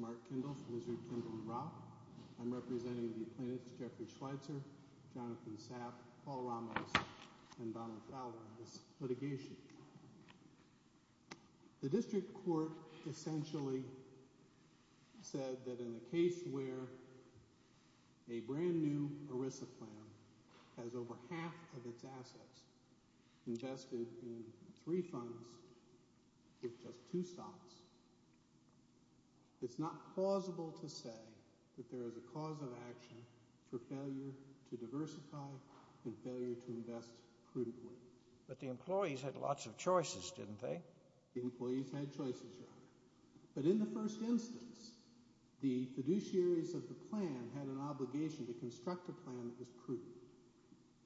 Mark Kendall, Wizard, Kimball, and Roth representing the appointments of Jeffrey Schweitzer, Jonathan Sapp, Paul Ramos, and Donald Fowler on this litigation. The district court essentially said that in a case where a brand new ERISA plan has over half of its assets invested in three funds with just two stops, it's not plausible to say that there is a cause of action for failure to diversify and failure to invest crudely. But the employees had lots of choices, didn't they? The employees had choices, Your Honor. But in the first instance, the fiduciaries of the plan had an obligation to construct a plan that was prudent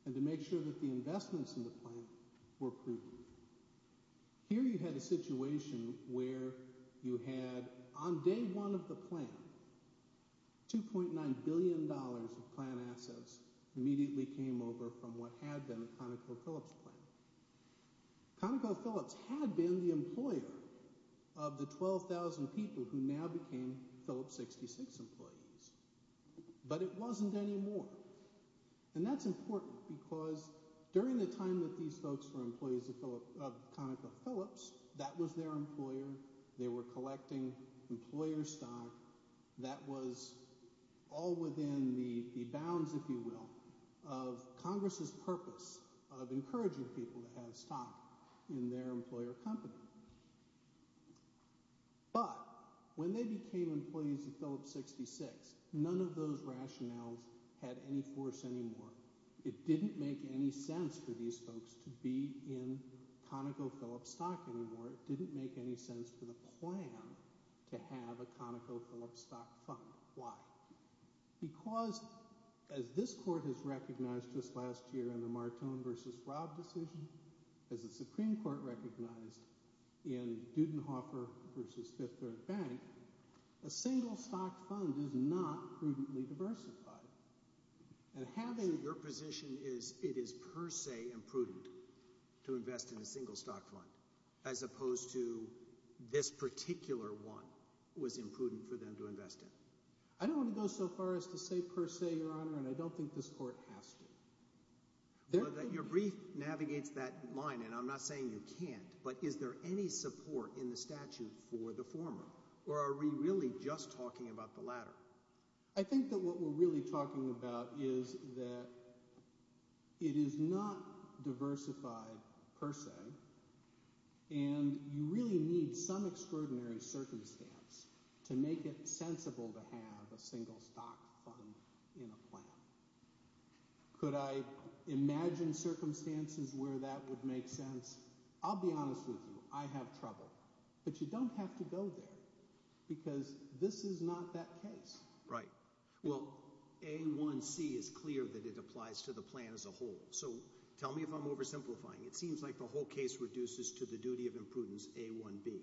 and to make sure that the investments in the plan were prudent. Here you had a situation where you had, on day one of the plan, $2.9 billion of plan assets immediately came over from what had been a ConocoPhillips plan. ConocoPhillips had been the employer of the 12,000 people who now became Phillips 66 employees, but it wasn't anymore. And that's important because during the time that these folks were employees of ConocoPhillips, that was their employer. They were collecting employer stock that was all within the bounds, if you will, of Congress's purpose of encouraging people to have stock in their employer company. But when they became employees of Phillips 66, none of those rationales had any force anymore. It didn't make any sense for these folks to be in ConocoPhillips stock anymore. It didn't make any sense for the plan to have a ConocoPhillips stock fund. Why? Because, as this court has recognized just last year in the Martone v. Robb decision, as the Supreme Court recognized in Dudenhofer v. Fifth Earth Bank, a single stock fund is not prudently diversified. And having your position is it is per se imprudent to invest in a single stock fund as opposed to this particular one was imprudent for them to invest in. I don't want to go so far as to say per se, Your Honor, and I don't think this court has to. Your brief navigates that line, and I'm not saying you can't, but is there any support in the statute for the former? Or are we really just talking about the latter? I think that what we're really talking about is that it is not diversified per se, and you really need some extraordinary circumstance to make it sensible to have a single stock fund in a plan. Could I imagine circumstances where that would make sense? I'll be honest with you. I have trouble. But you don't have to go there because this is not that case. Right. Well, A1C is clear that it applies to the plan as a whole. So tell me if I'm oversimplifying. It seems like the whole case reduces to the duty of imprudence A1B.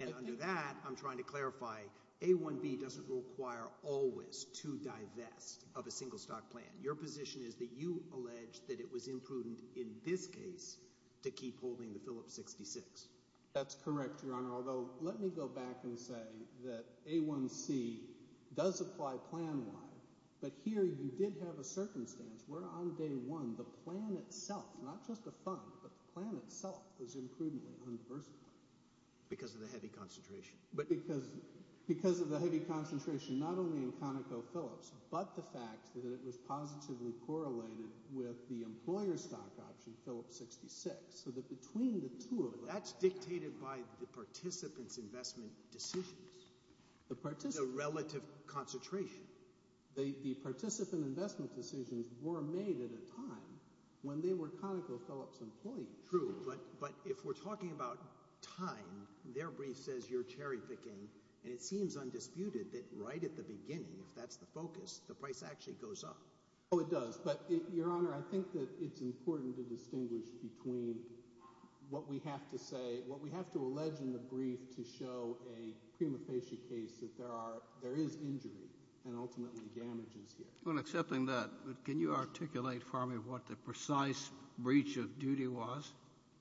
And under that, I'm trying to clarify A1B doesn't require always to divest of a single stock plan. Your position is that you allege that it was imprudent in this case to keep holding the Phillips 66. That's correct, Your Honor, although let me go back and say that A1C does apply plan-wide. But here you did have a circumstance where on day one the plan itself, not just the fund, but the plan itself was imprudently undiversified. Because of the heavy concentration. Because of the heavy concentration not only in ConocoPhillips but the fact that it was positively correlated with the employer stock option, Phillips 66. So that between the two of them. That's dictated by the participant's investment decisions. The participant. The relative concentration. The participant investment decisions were made at a time when they were ConocoPhillips employees. True. But if we're talking about time, their brief says you're cherry picking, and it seems undisputed that right at the beginning, if that's the focus, the price actually goes up. Oh, it does. But, Your Honor, I think that it's important to distinguish between what we have to say, what we have to allege in the brief to show a prima facie case that there is injury and ultimately damages here. Well, accepting that, can you articulate for me what the precise breach of duty was?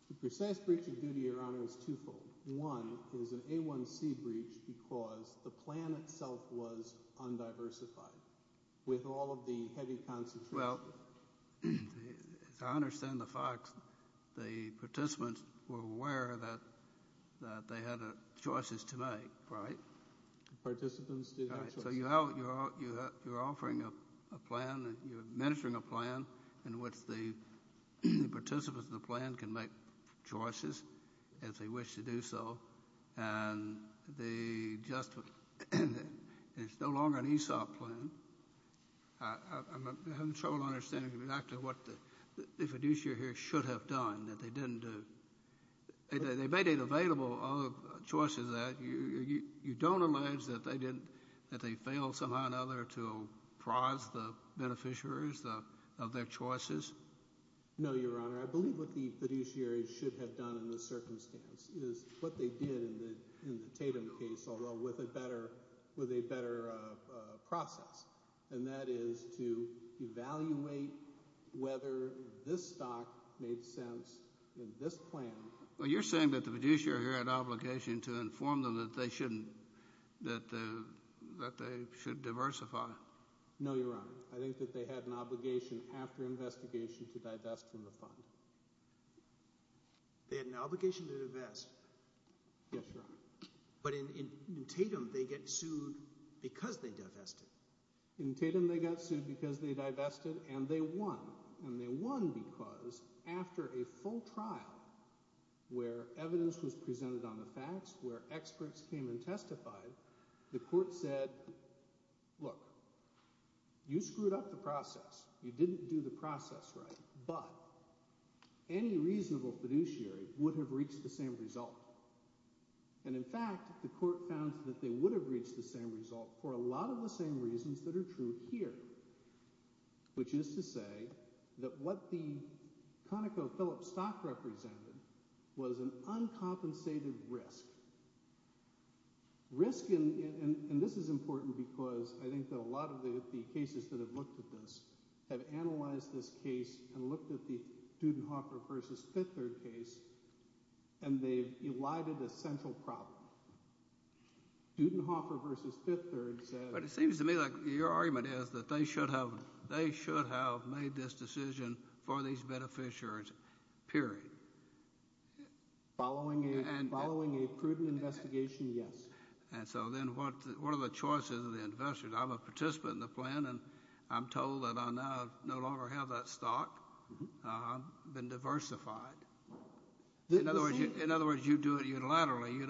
The precise breach of duty, Your Honor, is twofold. One is an A1C breach because the plan itself was undiversified with all of the heavy concentration. Well, I understand the facts. The participants were aware that they had choices to make, right? Participants did have choices. So you're offering a plan, you're administering a plan in which the participants of the plan can make choices as they wish to do so, and it's no longer an ESOP plan. I'm having trouble understanding exactly what the fiduciary here should have done that they didn't do. They made it available, all the choices there. You don't allege that they failed somehow or another to prize the beneficiaries of their choices? No, Your Honor. Your Honor, I believe what the fiduciary should have done in this circumstance is what they did in the Tatum case, although with a better process, and that is to evaluate whether this stock made sense in this plan. Well, you're saying that the fiduciary here had an obligation to inform them that they should diversify. No, Your Honor. I think that they had an obligation after investigation to divest from the fund. They had an obligation to divest. Yes, Your Honor. But in Tatum they get sued because they divested. In Tatum they got sued because they divested, and they won. And they won because after a full trial where evidence was presented on the facts, where experts came and testified, the court said, look, you screwed up the process. You didn't do the process right. But any reasonable fiduciary would have reached the same result. And in fact, the court found that they would have reached the same result for a lot of the same reasons that are true here, which is to say that what the ConocoPhillips stock represented was an uncompensated risk. Risk, and this is important because I think that a lot of the cases that have looked at this have analyzed this case and looked at the Dudenhofer v. Fifth Third case, and they've elided a central problem. Dudenhofer v. Fifth Third said— But it seems to me like your argument is that they should have made this decision for these beneficiaries, period. Following a prudent investigation, yes. And so then what are the choices of the investors? I'm a participant in the plan, and I'm told that I now no longer have that stock. I've been diversified. In other words, you do it unilaterally. Yes.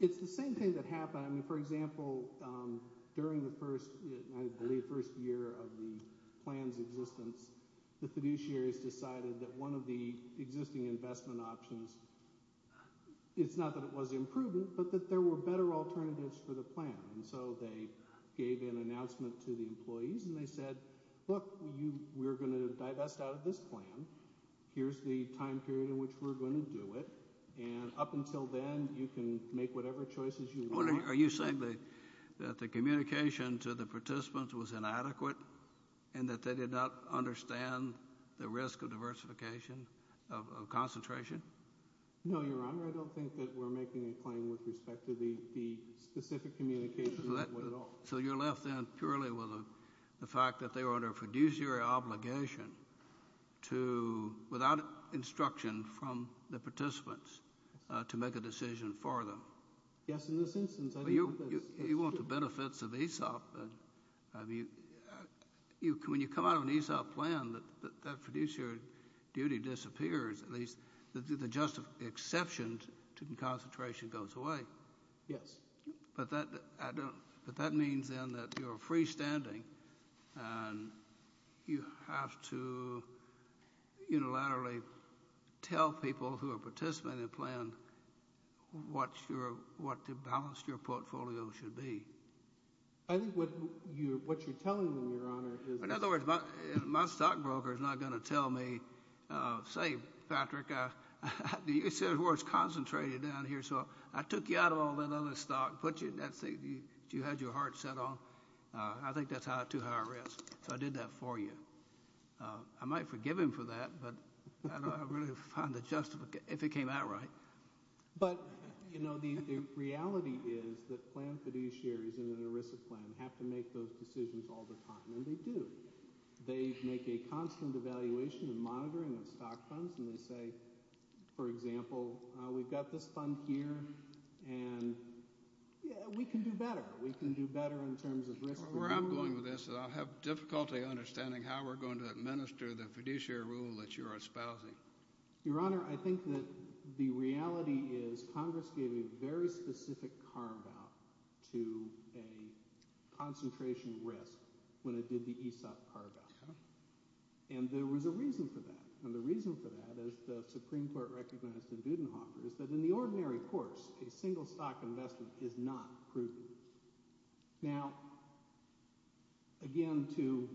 It's the same thing that happened. For example, during the first, I believe, first year of the plan's existence, the fiduciaries decided that one of the existing investment options—it's not that it was imprudent, but that there were better alternatives for the plan. And so they gave an announcement to the employees, and they said, look, we're going to divest out of this plan. Here's the time period in which we're going to do it. And up until then, you can make whatever choices you want. Are you saying that the communication to the participants was inadequate and that they did not understand the risk of diversification of concentration? No, Your Honor. I don't think that we're making a claim with respect to the specific communication at all. So you're left then purely with the fact that they were under fiduciary obligation to, without instruction from the participants, to make a decision for them. Yes, in this instance. You want the benefits of ESOP. When you come out of an ESOP plan, that fiduciary duty disappears, at least the exceptions to concentration goes away. Yes. But that means then that you're freestanding, and you have to unilaterally tell people who are participating in the plan what the balance of your portfolio should be. I think what you're telling them, Your Honor, is— You had your heart set on. I think that's too high a risk, so I did that for you. I might forgive him for that, but I don't really find a justification, if it came out right. But, you know, the reality is that plan fiduciaries in an ERISA plan have to make those decisions all the time, and they do. They make a constant evaluation and monitoring of stock funds, and they say, for example, we've got this fund here, and we can do better. We can do better in terms of risk. Where I'm going with this is I'll have difficulty understanding how we're going to administer the fiduciary rule that you're espousing. Your Honor, I think that the reality is Congress gave a very specific carve-out to a concentration risk when it did the ESOP carve-out. And there was a reason for that, and the reason for that, as the Supreme Court recognized in Budenhofer, is that in the ordinary course, a single-stock investment is not prudent. Now, again, to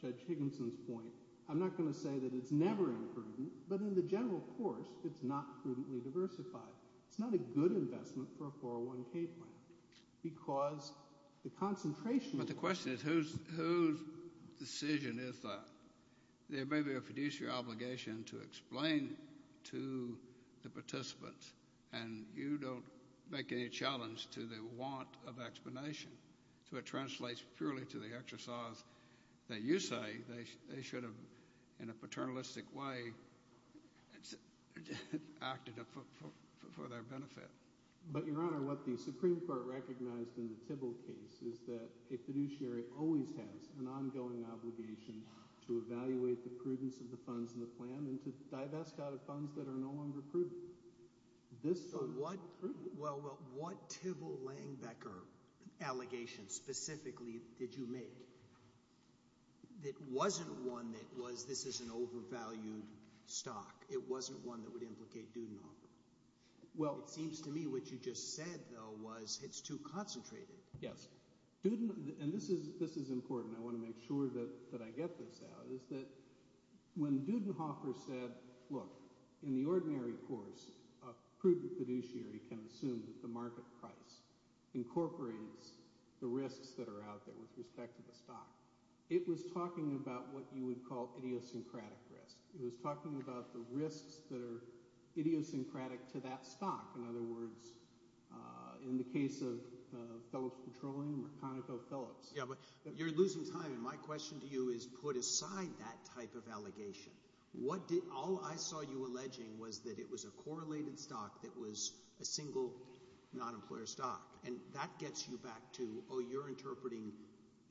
Judge Higginson's point, I'm not going to say that it's never imprudent, but in the general course, it's not prudently diversified. It's not a good investment for a 401k plan, because the concentration— But the question is whose decision is that? There may be a fiduciary obligation to explain to the participants, and you don't make any challenge to the want of explanation. So it translates purely to the exercise that you say they should have, in a paternalistic way, acted for their benefit. But, Your Honor, what the Supreme Court recognized in the Tibble case is that a fiduciary always has an ongoing obligation to evaluate the prudence of the funds in the plan and to divest out of funds that are no longer prudent. So what Tibble-Langbecker allegations specifically did you make that wasn't one that was this is an overvalued stock? It wasn't one that would implicate Budenhofer? It seems to me what you just said, though, was it's too concentrated. Yes. And this is important. I want to make sure that I get this out, is that when Budenhofer said, look, in the ordinary course, a prudent fiduciary can assume that the market price incorporates the risks that are out there with respect to the stock. It was talking about what you would call idiosyncratic risk. It was talking about the risks that are idiosyncratic to that stock. In other words, in the case of Phillips Petroleum or ConocoPhillips. Yeah, but you're losing time, and my question to you is put aside that type of allegation. All I saw you alleging was that it was a correlated stock that was a single non-employer stock. And that gets you back to, oh, you're interpreting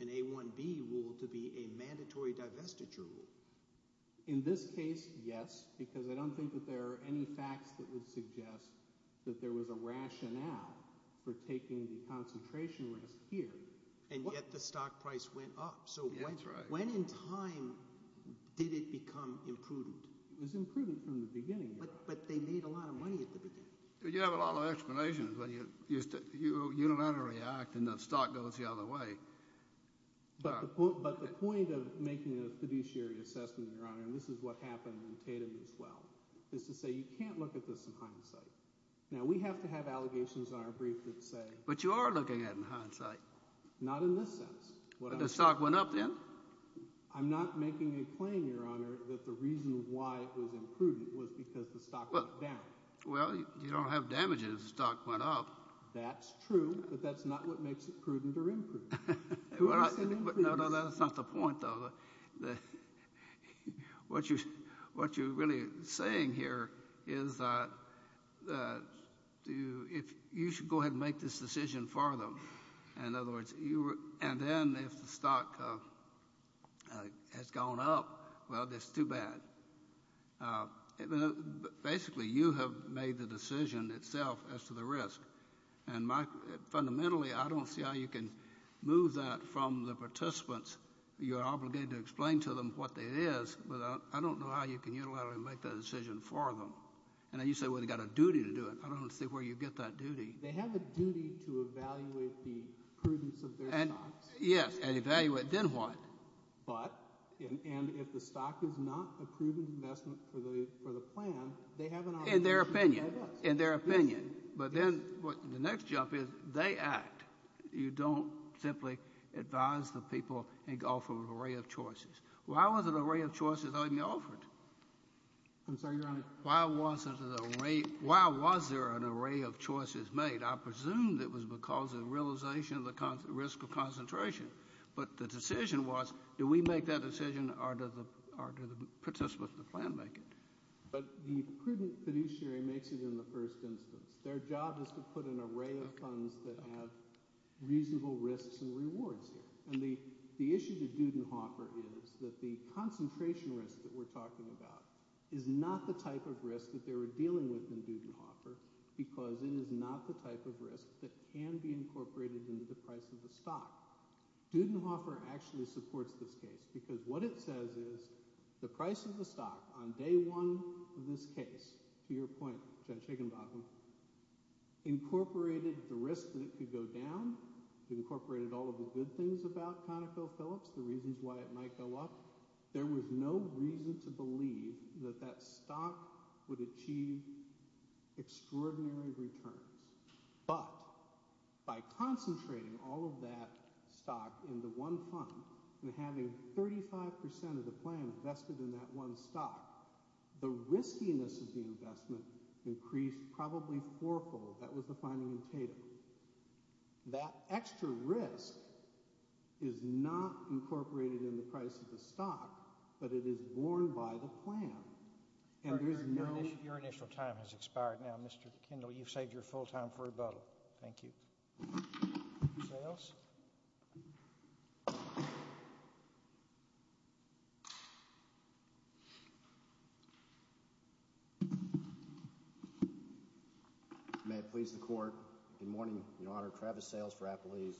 an A1B rule to be a mandatory divestiture rule. In this case, yes, because I don't think that there are any facts that would suggest that there was a rationale for taking the concentration risk here. And yet the stock price went up. That's right. So when in time did it become imprudent? It was imprudent from the beginning. But they made a lot of money at the beginning. You have a lot of explanations. You don't have to react, and the stock goes the other way. But the point of making a fiduciary assessment, Your Honor, and this is what happened in Tatum as well, is to say you can't look at this in hindsight. Now, we have to have allegations on our brief that say— But you are looking at it in hindsight. Not in this sense. But the stock went up then? I'm not making a claim, Your Honor, that the reason why it was imprudent was because the stock went down. Well, you don't have damages if the stock went up. That's true, but that's not what makes it prudent or imprudent. No, that's not the point, though. What you're really saying here is that you should go ahead and make this decision for them. In other words, and then if the stock has gone up, well, that's too bad. Basically, you have made the decision itself as to the risk. Fundamentally, I don't see how you can move that from the participants. You're obligated to explain to them what it is, but I don't know how you can unilaterally make that decision for them. And you say, well, they've got a duty to do it. I don't see where you get that duty. They have a duty to evaluate the prudence of their stocks. Yes, and evaluate. Then what? But, and if the stock is not a prudent investment for the plan, they have an obligation. In their opinion. It is. In their opinion. But then the next jump is they act. You don't simply advise the people and offer an array of choices. Why was an array of choices only offered? I'm sorry, Your Honor. Why was there an array of choices made? I presume it was because of realization of the risk of concentration. But the decision was, do we make that decision or do the participants of the plan make it? But the prudent fiduciary makes it in the first instance. Their job is to put an array of funds that have reasonable risks and rewards here. And the issue to Dudenhofer is that the concentration risk that we're talking about is not the type of risk that they were dealing with in Dudenhofer because it is not the type of risk that can be incorporated into the price of the stock. Dudenhofer actually supports this case because what it says is the price of the stock on day one of this case, to your point, Judge Higginbottom, incorporated the risk that it could go down. It incorporated all of the good things about ConocoPhillips, the reasons why it might go up. There was no reason to believe that that stock would achieve extraordinary returns. But by concentrating all of that stock into one fund and having 35% of the plan invested in that one stock, the riskiness of the investment increased probably fourfold. That was the finding in Tatum. That extra risk is not incorporated in the price of the stock, but it is borne by the plan. Your initial time has expired now, Mr. Kendall. You've saved your full time for rebuttal. Thank you. Sales? May it please the court. Good morning, Your Honor. Travis Sales for Appalachian.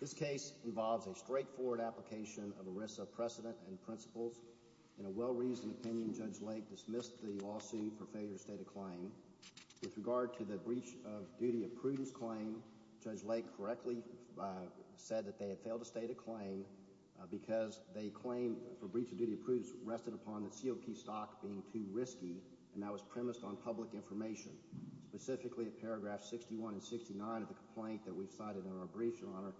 This case involves a straightforward application of ERISA precedent and principles. In a well-reasoned opinion, Judge Lake dismissed the lawsuit for failure to state a claim. With regard to the breach of duty of prudence claim, Judge Lake correctly said that they had failed to state a claim because the claim for breach of duty of prudence rested upon the COP stock being too risky, and that was premised on public information, specifically at paragraphs 61 and 69 of the complaint that we've cited in our brief, Your Honor.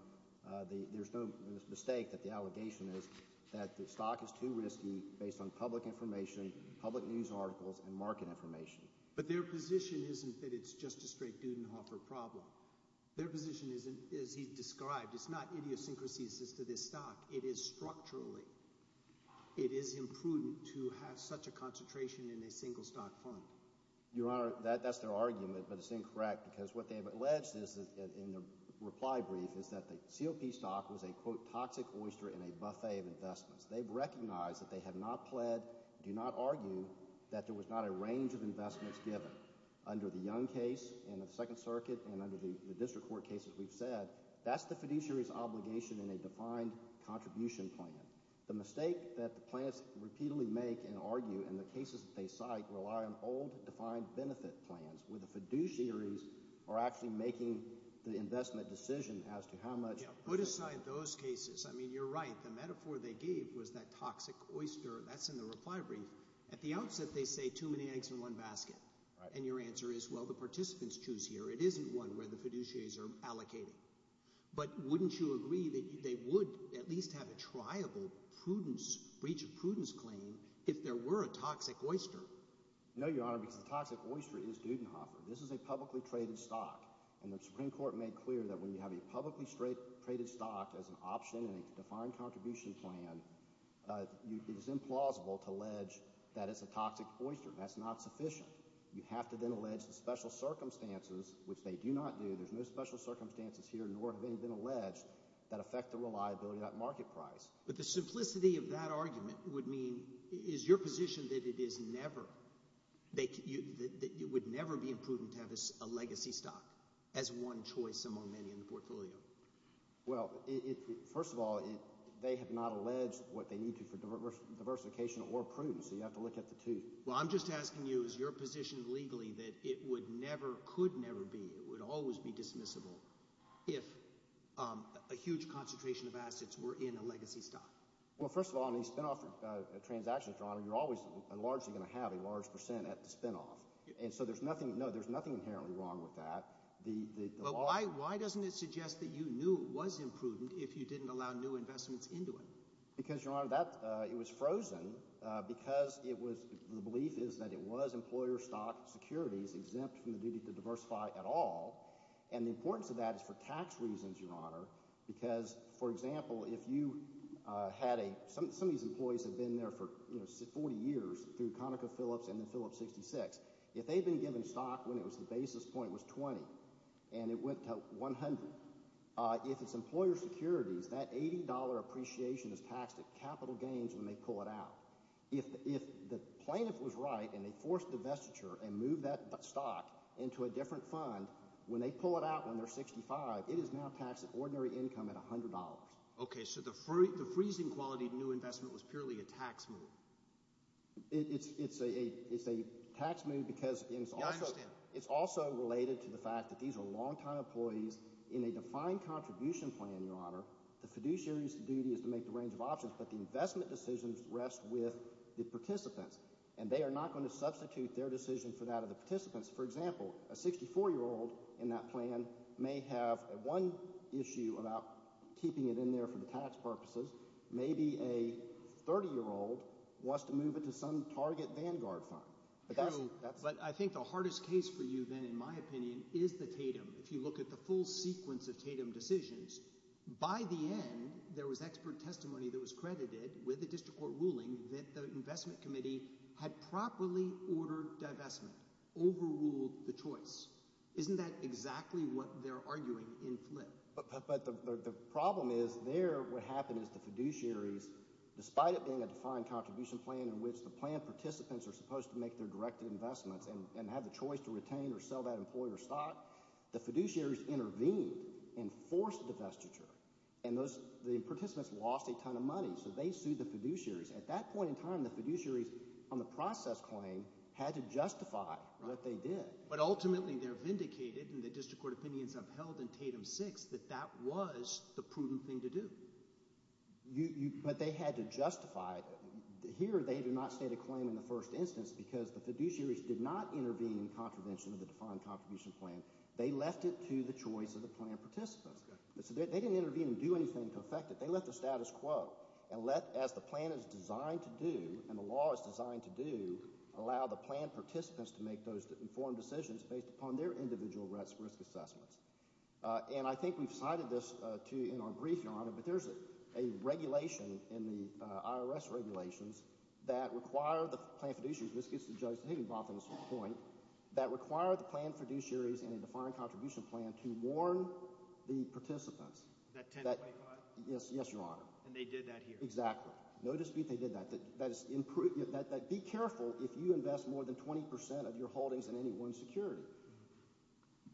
There's no mistake that the allegation is that the stock is too risky based on public information, public news articles, and market information. But their position isn't that it's just a straight Dudenhoffer problem. Their position is, as he described, it's not idiosyncrasies as to this stock. It is structurally. It is imprudent to have such a concentration in a single stock fund. Your Honor, that's their argument, but it's incorrect because what they've alleged in the reply brief is that the COP stock was a, quote, toxic oyster in a buffet of investments. They've recognized that they have not pled, do not argue, that there was not a range of investments given. Under the Young case in the Second Circuit and under the district court cases we've said, that's the fiduciary's obligation in a defined contribution plan. The mistake that the plaintiffs repeatedly make and argue in the cases that they cite rely on old defined benefit plans where the fiduciaries are actually making the investment decision as to how much – Yeah, put aside those cases. I mean, you're right. The metaphor they gave was that toxic oyster. That's in the reply brief. At the outset, they say too many eggs in one basket. And your answer is, well, the participants choose here. It isn't one where the fiduciaries are allocating. But wouldn't you agree that they would at least have a triable prudence, breach of prudence claim if there were a toxic oyster? No, Your Honor, because the toxic oyster is Dudenhoffer. This is a publicly traded stock. And the Supreme Court made clear that when you have a publicly traded stock as an option in a defined contribution plan, it is implausible to allege that it's a toxic oyster. That's not sufficient. You have to then allege the special circumstances, which they do not do. There's no special circumstances here nor have any been alleged that affect the reliability of that market price. But the simplicity of that argument would mean is your position that it is never – that it would never be imprudent to have a legacy stock as one choice among many in the portfolio? Well, first of all, they have not alleged what they need to for diversification or prudence, so you have to look at the two. Well, I'm just asking you is your position legally that it would never – could never be – it would always be dismissible if a huge concentration of assets were in a legacy stock? Well, first of all, in these spinoff transactions, Your Honor, you're always and largely going to have a large percent at the spinoff. And so there's nothing – no, there's nothing inherently wrong with that. But why doesn't it suggest that you knew it was imprudent if you didn't allow new investments into it? Because, Your Honor, that – it was frozen because it was – the belief is that it was employer stock securities exempt from the duty to diversify at all. And the importance of that is for tax reasons, Your Honor, because, for example, if you had a – some of these employees have been there for 40 years through ConocoPhillips and then Phillips 66. If they've been given stock when it was – the basis point was 20 and it went to 100, if it's employer securities, that $80 appreciation is taxed at capital gains when they pull it out. If the plaintiff was right and they forced divestiture and moved that stock into a different fund, when they pull it out when they're 65, it is now taxed at ordinary income at $100. Okay, so the freezing quality of new investment was purely a tax move. It's a tax move because it's also related to the fact that these are longtime employees in a defined contribution plan, Your Honor. The fiduciary's duty is to make the range of options, but the investment decisions rest with the participants, and they are not going to substitute their decision for that of the participants. For example, a 64-year-old in that plan may have one issue about keeping it in there for the tax purposes. Maybe a 30-year-old wants to move it to some target vanguard fund. True, but I think the hardest case for you then, in my opinion, is the TATEM. If you look at the full sequence of TATEM decisions, by the end, there was expert testimony that was credited with a district court ruling that the investment committee had properly ordered divestment, overruled the choice. Isn't that exactly what they're arguing in Flint? But the problem is there what happened is the fiduciaries, despite it being a defined contribution plan in which the plan participants are supposed to make their directed investments and have the choice to retain or sell that employee or stock, the fiduciaries intervened and forced divestiture. And the participants lost a ton of money, so they sued the fiduciaries. At that point in time, the fiduciaries on the process claim had to justify what they did. But ultimately they're vindicated, and the district court opinions have held in TATEM VI that that was the prudent thing to do. But they had to justify it. Here they did not state a claim in the first instance because the fiduciaries did not intervene in contravention of the defined contribution plan. They left it to the choice of the plan participants. They didn't intervene and do anything to affect it. They left the status quo and let, as the plan is designed to do and the law is designed to do, allow the plan participants to make those informed decisions based upon their individual risk assessments. And I think we've cited this in our brief, Your Honor, but there's a regulation in the IRS regulations that require the plan fiduciaries – this gets to Judge Higginbotham's point – that require the plan fiduciaries in a defined contribution plan to warn the participants. Is that 1025? Yes, Your Honor. And they did that here? Exactly. No dispute they did that. Be careful if you invest more than 20 percent of your holdings in any one security.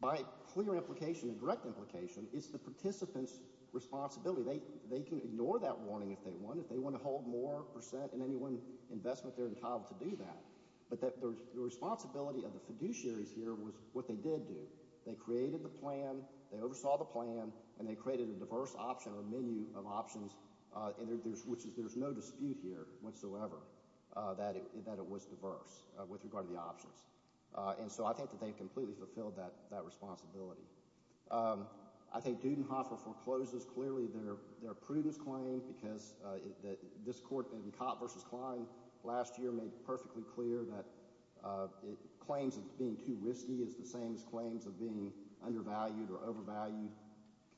By clear implication and direct implication, it's the participants' responsibility. They can ignore that warning if they want. If they want to hold more percent in any one investment, they're entitled to do that. But the responsibility of the fiduciaries here was what they did do. They created the plan, they oversaw the plan, and they created a diverse option or menu of options, which is there's no dispute here whatsoever that it was diverse with regard to the options. And so I think that they've completely fulfilled that responsibility. I think Dudenhofer forecloses clearly their prudence claim because this court in Kopp v. Klein last year made perfectly clear that claims of being too risky is the same as claims of being undervalued or overvalued.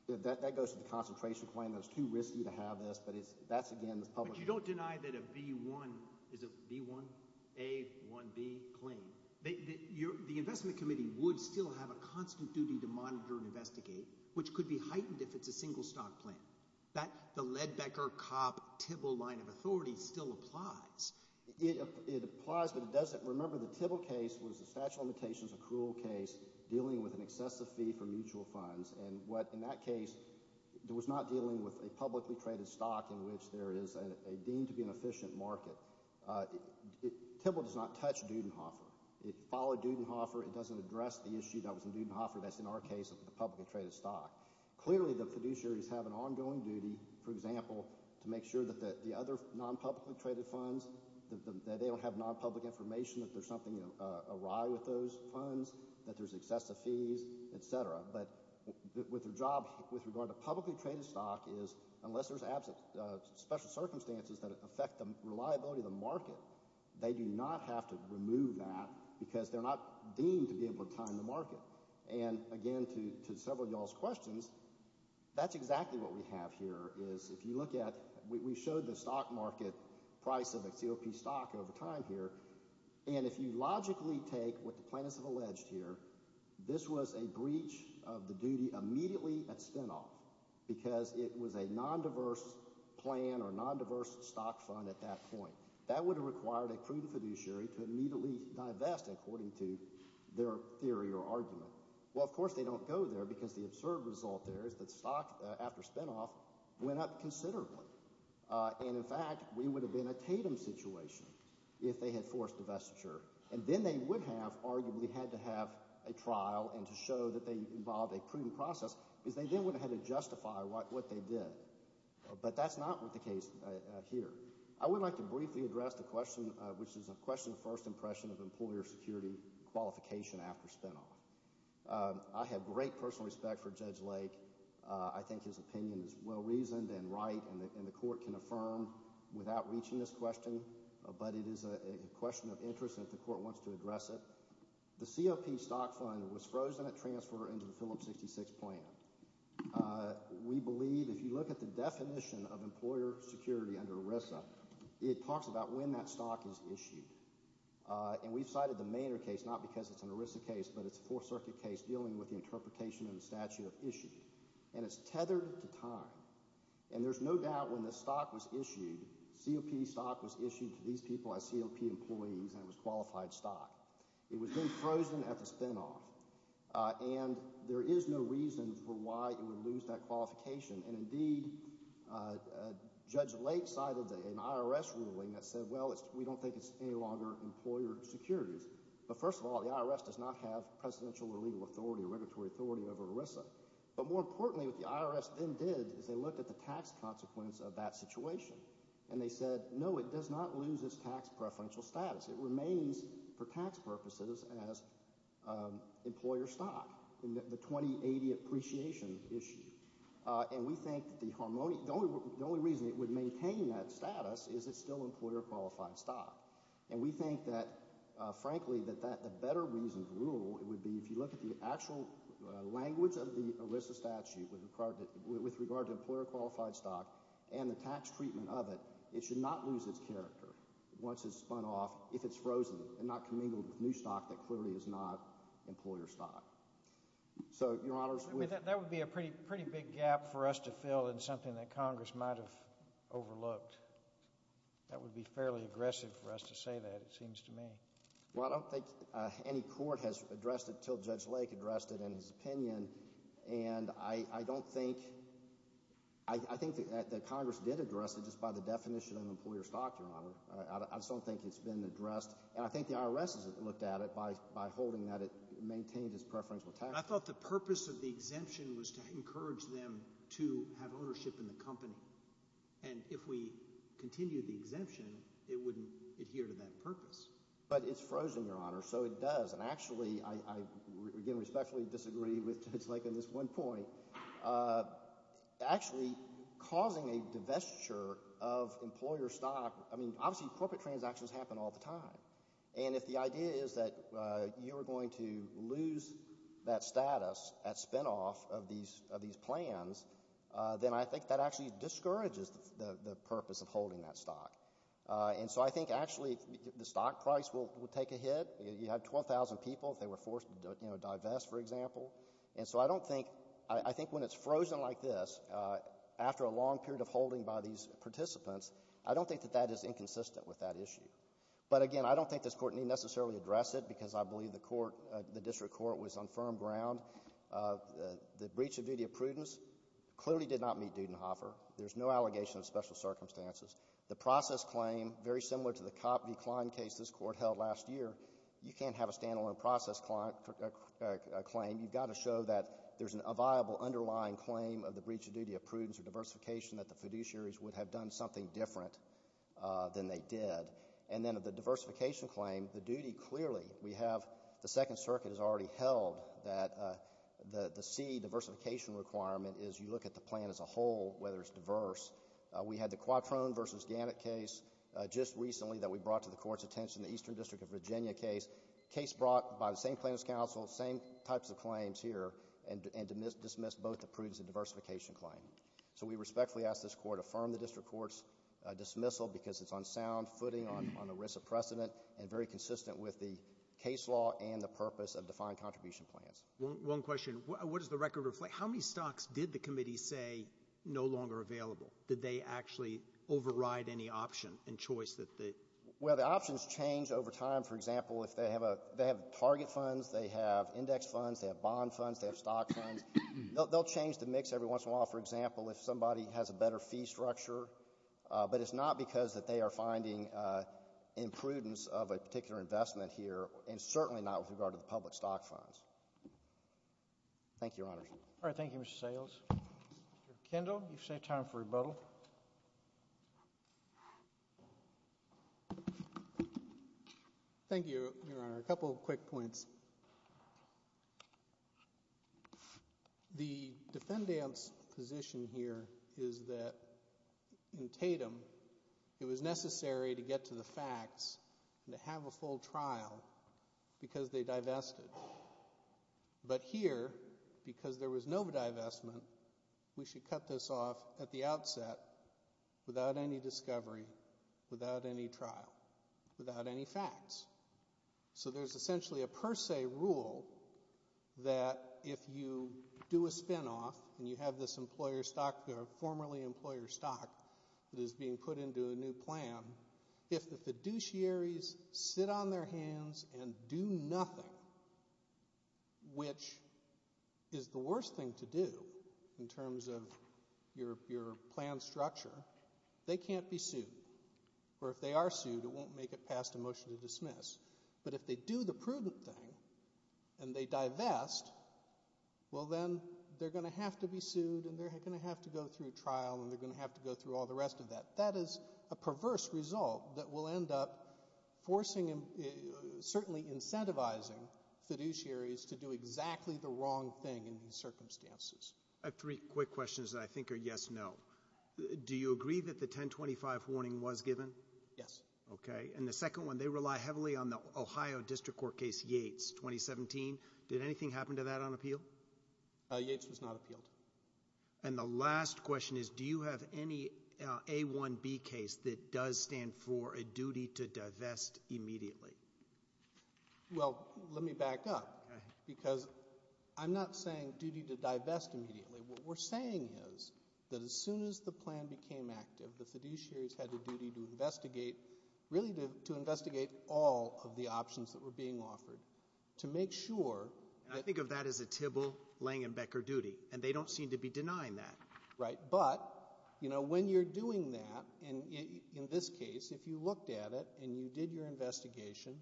That goes to the concentration claim that it's too risky to have this, but that's again the public opinion. But you don't deny that a B1 – is it B1A1B claim? The investment committee would still have a constant duty to monitor and investigate, which could be heightened if it's a single stock plan. The Ledbecker-Kopp-Tibble line of authority still applies. It applies, but it doesn't – remember the Tibble case was a statute of limitations accrual case dealing with an excessive fee for mutual funds. And what – in that case, it was not dealing with a publicly traded stock in which there is a deemed to be an efficient market. Tibble does not touch Dudenhofer. It followed Dudenhofer. It doesn't address the issue that was in Dudenhofer that's in our case of the publicly traded stock. Clearly the fiduciaries have an ongoing duty, for example, to make sure that the other non-publicly traded funds, that they don't have non-public information, that there's something awry with those funds, that there's excessive fees, etc. But their job with regard to publicly traded stock is unless there's special circumstances that affect the reliability of the market, they do not have to remove that because they're not deemed to be able to time the market. And again, to several of y'all's questions, that's exactly what we have here is if you look at – we showed the stock market price of a COP stock over time here. And if you logically take what the plaintiffs have alleged here, this was a breach of the duty immediately at spinoff because it was a non-diverse plan or non-diverse stock fund at that point. That would have required a crude fiduciary to immediately divest according to their theory or argument. Well, of course they don't go there because the absurd result there is that stock after spinoff went up considerably. And, in fact, we would have been a tatum situation if they had forced divestiture. And then they would have arguably had to have a trial and to show that they involved a prudent process because they then would have had to justify what they did. But that's not the case here. I would like to briefly address the question, which is a question of first impression of employer security qualification after spinoff. I have great personal respect for Judge Lake. I think his opinion is well-reasoned and right, and the court can affirm without reaching this question. But it is a question of interest if the court wants to address it. The COP stock fund was frozen at transfer into the Phillips 66 plan. We believe if you look at the definition of employer security under ERISA, it talks about when that stock is issued. And we've cited the Maynard case, not because it's an ERISA case, but it's a Fourth Circuit case dealing with the interpretation of the statute of issue. And it's tethered to time. And there's no doubt when the stock was issued, COP stock was issued to these people as COP employees, and it was qualified stock. It was then frozen at the spinoff. And there is no reason for why it would lose that qualification. And indeed, Judge Lake cited an IRS ruling that said, well, we don't think it's any longer employer securities. But first of all, the IRS does not have presidential or legal authority or regulatory authority over ERISA. But more importantly, what the IRS then did is they looked at the tax consequence of that situation. And they said, no, it does not lose its tax preferential status. It remains for tax purposes as employer stock, the 2080 appreciation issue. And we think the only reason it would maintain that status is it's still employer-qualified stock. And we think that, frankly, that the better reason to rule would be if you look at the actual language of the ERISA statute with regard to employer-qualified stock and the tax treatment of it, it should not lose its character once it's spun off if it's frozen and not commingled with new stock that clearly is not employer stock. So, Your Honor, that would be a pretty big gap for us to fill in something that Congress might have overlooked. That would be fairly aggressive for us to say that, it seems to me. Well, I don't think any court has addressed it until Judge Lake addressed it in his opinion. And I don't think – I think that Congress did address it just by the definition of employer stock, Your Honor. I just don't think it's been addressed. And I think the IRS has looked at it by holding that it maintains its preferential tax. But I thought the purpose of the exemption was to encourage them to have ownership in the company. And if we continue the exemption, it wouldn't adhere to that purpose. But it's frozen, Your Honor, so it does. And, actually, I, again, respectfully disagree with Judge Lake on this one point. Actually, causing a divestiture of employer stock – I mean, obviously corporate transactions happen all the time. And if the idea is that you are going to lose that status at spinoff of these plans, then I think that actually discourages the purpose of holding that stock. And so I think, actually, the stock price will take a hit. You have 12,000 people if they were forced to divest, for example. And so I don't think – I think when it's frozen like this, after a long period of holding by these participants, I don't think that that is inconsistent with that issue. But, again, I don't think this Court need necessarily address it because I believe the District Court was on firm ground. The breach of duty of prudence clearly did not meet Dudenhofer. There's no allegation of special circumstances. The process claim, very similar to the Kotb-Klein case this Court held last year, you can't have a stand-alone process claim. You've got to show that there's a viable underlying claim of the breach of duty of prudence or diversification, that the fiduciaries would have done something different than they did. And then the diversification claim, the duty clearly we have – the Second Circuit has already held that the C, diversification requirement, is you look at the plan as a whole, whether it's diverse. We had the Quattrone v. Gannett case just recently that we brought to the Court's attention, the Eastern District of Virginia case. Case brought by the same plaintiff's counsel, same types of claims here, and dismissed both the prudence and diversification claim. So we respectfully ask this Court affirm the District Court's dismissal because it's on sound footing, on the risk of precedent, and very consistent with the case law and the purpose of defined contribution plans. One question. What does the record reflect? How many stocks did the committee say no longer available? Did they actually override any option and choice that they – Well, the options change over time. For example, if they have target funds, they have index funds, they have bond funds, they have stock funds, they'll change the mix every once in a while. For example, if somebody has a better fee structure, but it's not because that they are finding imprudence of a particular investment here, and certainly not with regard to the public stock funds. Thank you, Your Honor. All right. Thank you, Mr. Sayles. Mr. Kendall, you've saved time for rebuttal. Thank you, Your Honor. A couple of quick points. The defendant's position here is that in Tatum it was necessary to get to the facts and to have a full trial because they divested. But here, because there was no divestment, we should cut this off at the outset without any discovery, without any trial, without any facts. So there's essentially a per se rule that if you do a spinoff and you have this employer stock or formerly employer stock that is being put into a new plan, if the fiduciaries sit on their hands and do nothing, which is the worst thing to do in terms of your plan structure, they can't be sued. Or if they are sued, it won't make it past a motion to dismiss. But if they do the prudent thing and they divest, well then they're going to have to be sued and they're going to have to go through trial and they're going to have to go through all the rest of that. That is a perverse result that will end up forcing and certainly incentivizing fiduciaries to do exactly the wrong thing in these circumstances. I have three quick questions that I think are yes-no. Do you agree that the 1025 warning was given? Yes. Okay. And the second one, they rely heavily on the Ohio District Court case, Yates, 2017. Did anything happen to that on appeal? Yates was not appealed. And the last question is do you have any A1B case that does stand for a duty to divest immediately? Well, let me back up because I'm not saying duty to divest immediately. What we're saying is that as soon as the plan became active, the fiduciaries had a duty to investigate, really to investigate all of the options that were being offered to make sure. And I think of that as a Tybil, Lange, and Becker duty. And they don't seem to be denying that. Right. But, you know, when you're doing that, in this case, if you looked at it and you did your investigation,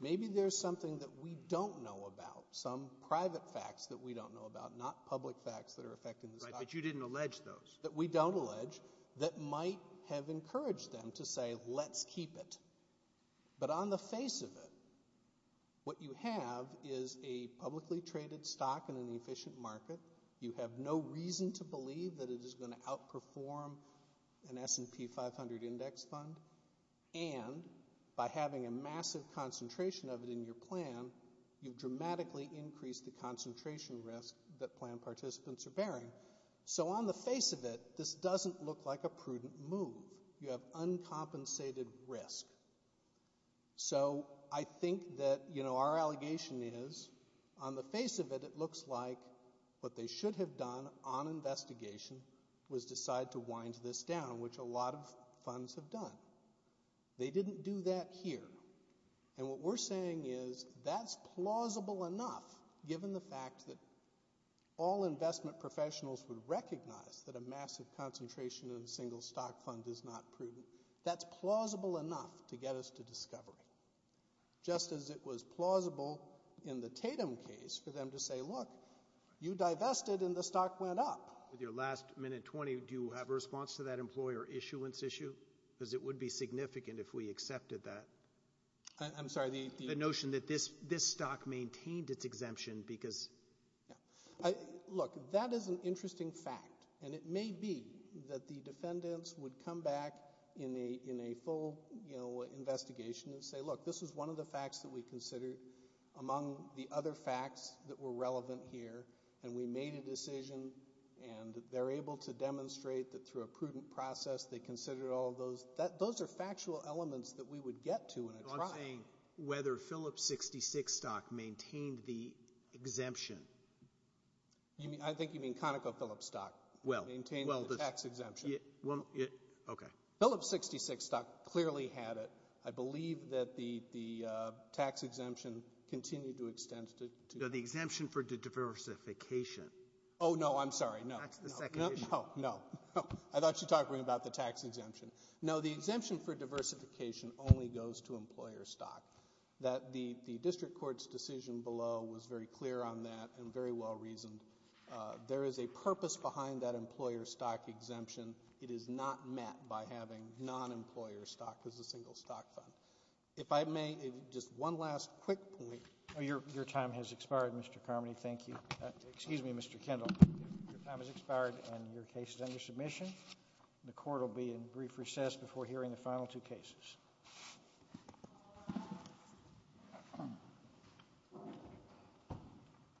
maybe there's something that we don't know about, some private facts that we don't know about, not public facts that are affecting the stock market. Right, but you didn't allege those. That we don't allege that might have encouraged them to say let's keep it. But on the face of it, what you have is a publicly traded stock in an efficient market. You have no reason to believe that it is going to outperform an S&P 500 index fund. And by having a massive concentration of it in your plan, you've dramatically increased the concentration risk that plan participants are bearing. So on the face of it, this doesn't look like a prudent move. You have uncompensated risk. So I think that, you know, our allegation is on the face of it, it looks like what they should have done on investigation was decide to wind this down, which a lot of funds have done. They didn't do that here. And what we're saying is that's plausible enough, given the fact that all investment professionals would recognize that a massive concentration in a single stock fund is not prudent. That's plausible enough to get us to discovery. Just as it was plausible in the Tatum case for them to say, look, you divested and the stock went up. With your last minute 20, do you have a response to that employer issuance issue? Because it would be significant if we accepted that. I'm sorry, the... The notion that this stock maintained its exemption because... Look, that is an interesting fact. And it may be that the defendants would come back in a full, you know, investigation and say, look, this is one of the facts that we considered among the other facts that were relevant here, and we made a decision, and they're able to demonstrate that through a prudent process they considered all of those. Those are factual elements that we would get to in a trial. I'm saying whether Phillips 66 stock maintained the exemption. I think you mean ConocoPhillips stock maintained the tax exemption. Okay. Phillips 66 stock clearly had it. I believe that the tax exemption continued to extend to... No, the exemption for diversification. Oh, no, I'm sorry, no. That's the second issue. No, no. I thought you were talking about the tax exemption. No, the exemption for diversification only goes to employer stock. The district court's decision below was very clear on that and very well reasoned. There is a purpose behind that employer stock exemption. It is not met by having non-employer stock as a single stock fund. If I may, just one last quick point. Your time has expired, Mr. Carmody. Thank you. Excuse me, Mr. Kendall. Your time has expired and your case is under submission. The court will be in brief recess before hearing the final two cases.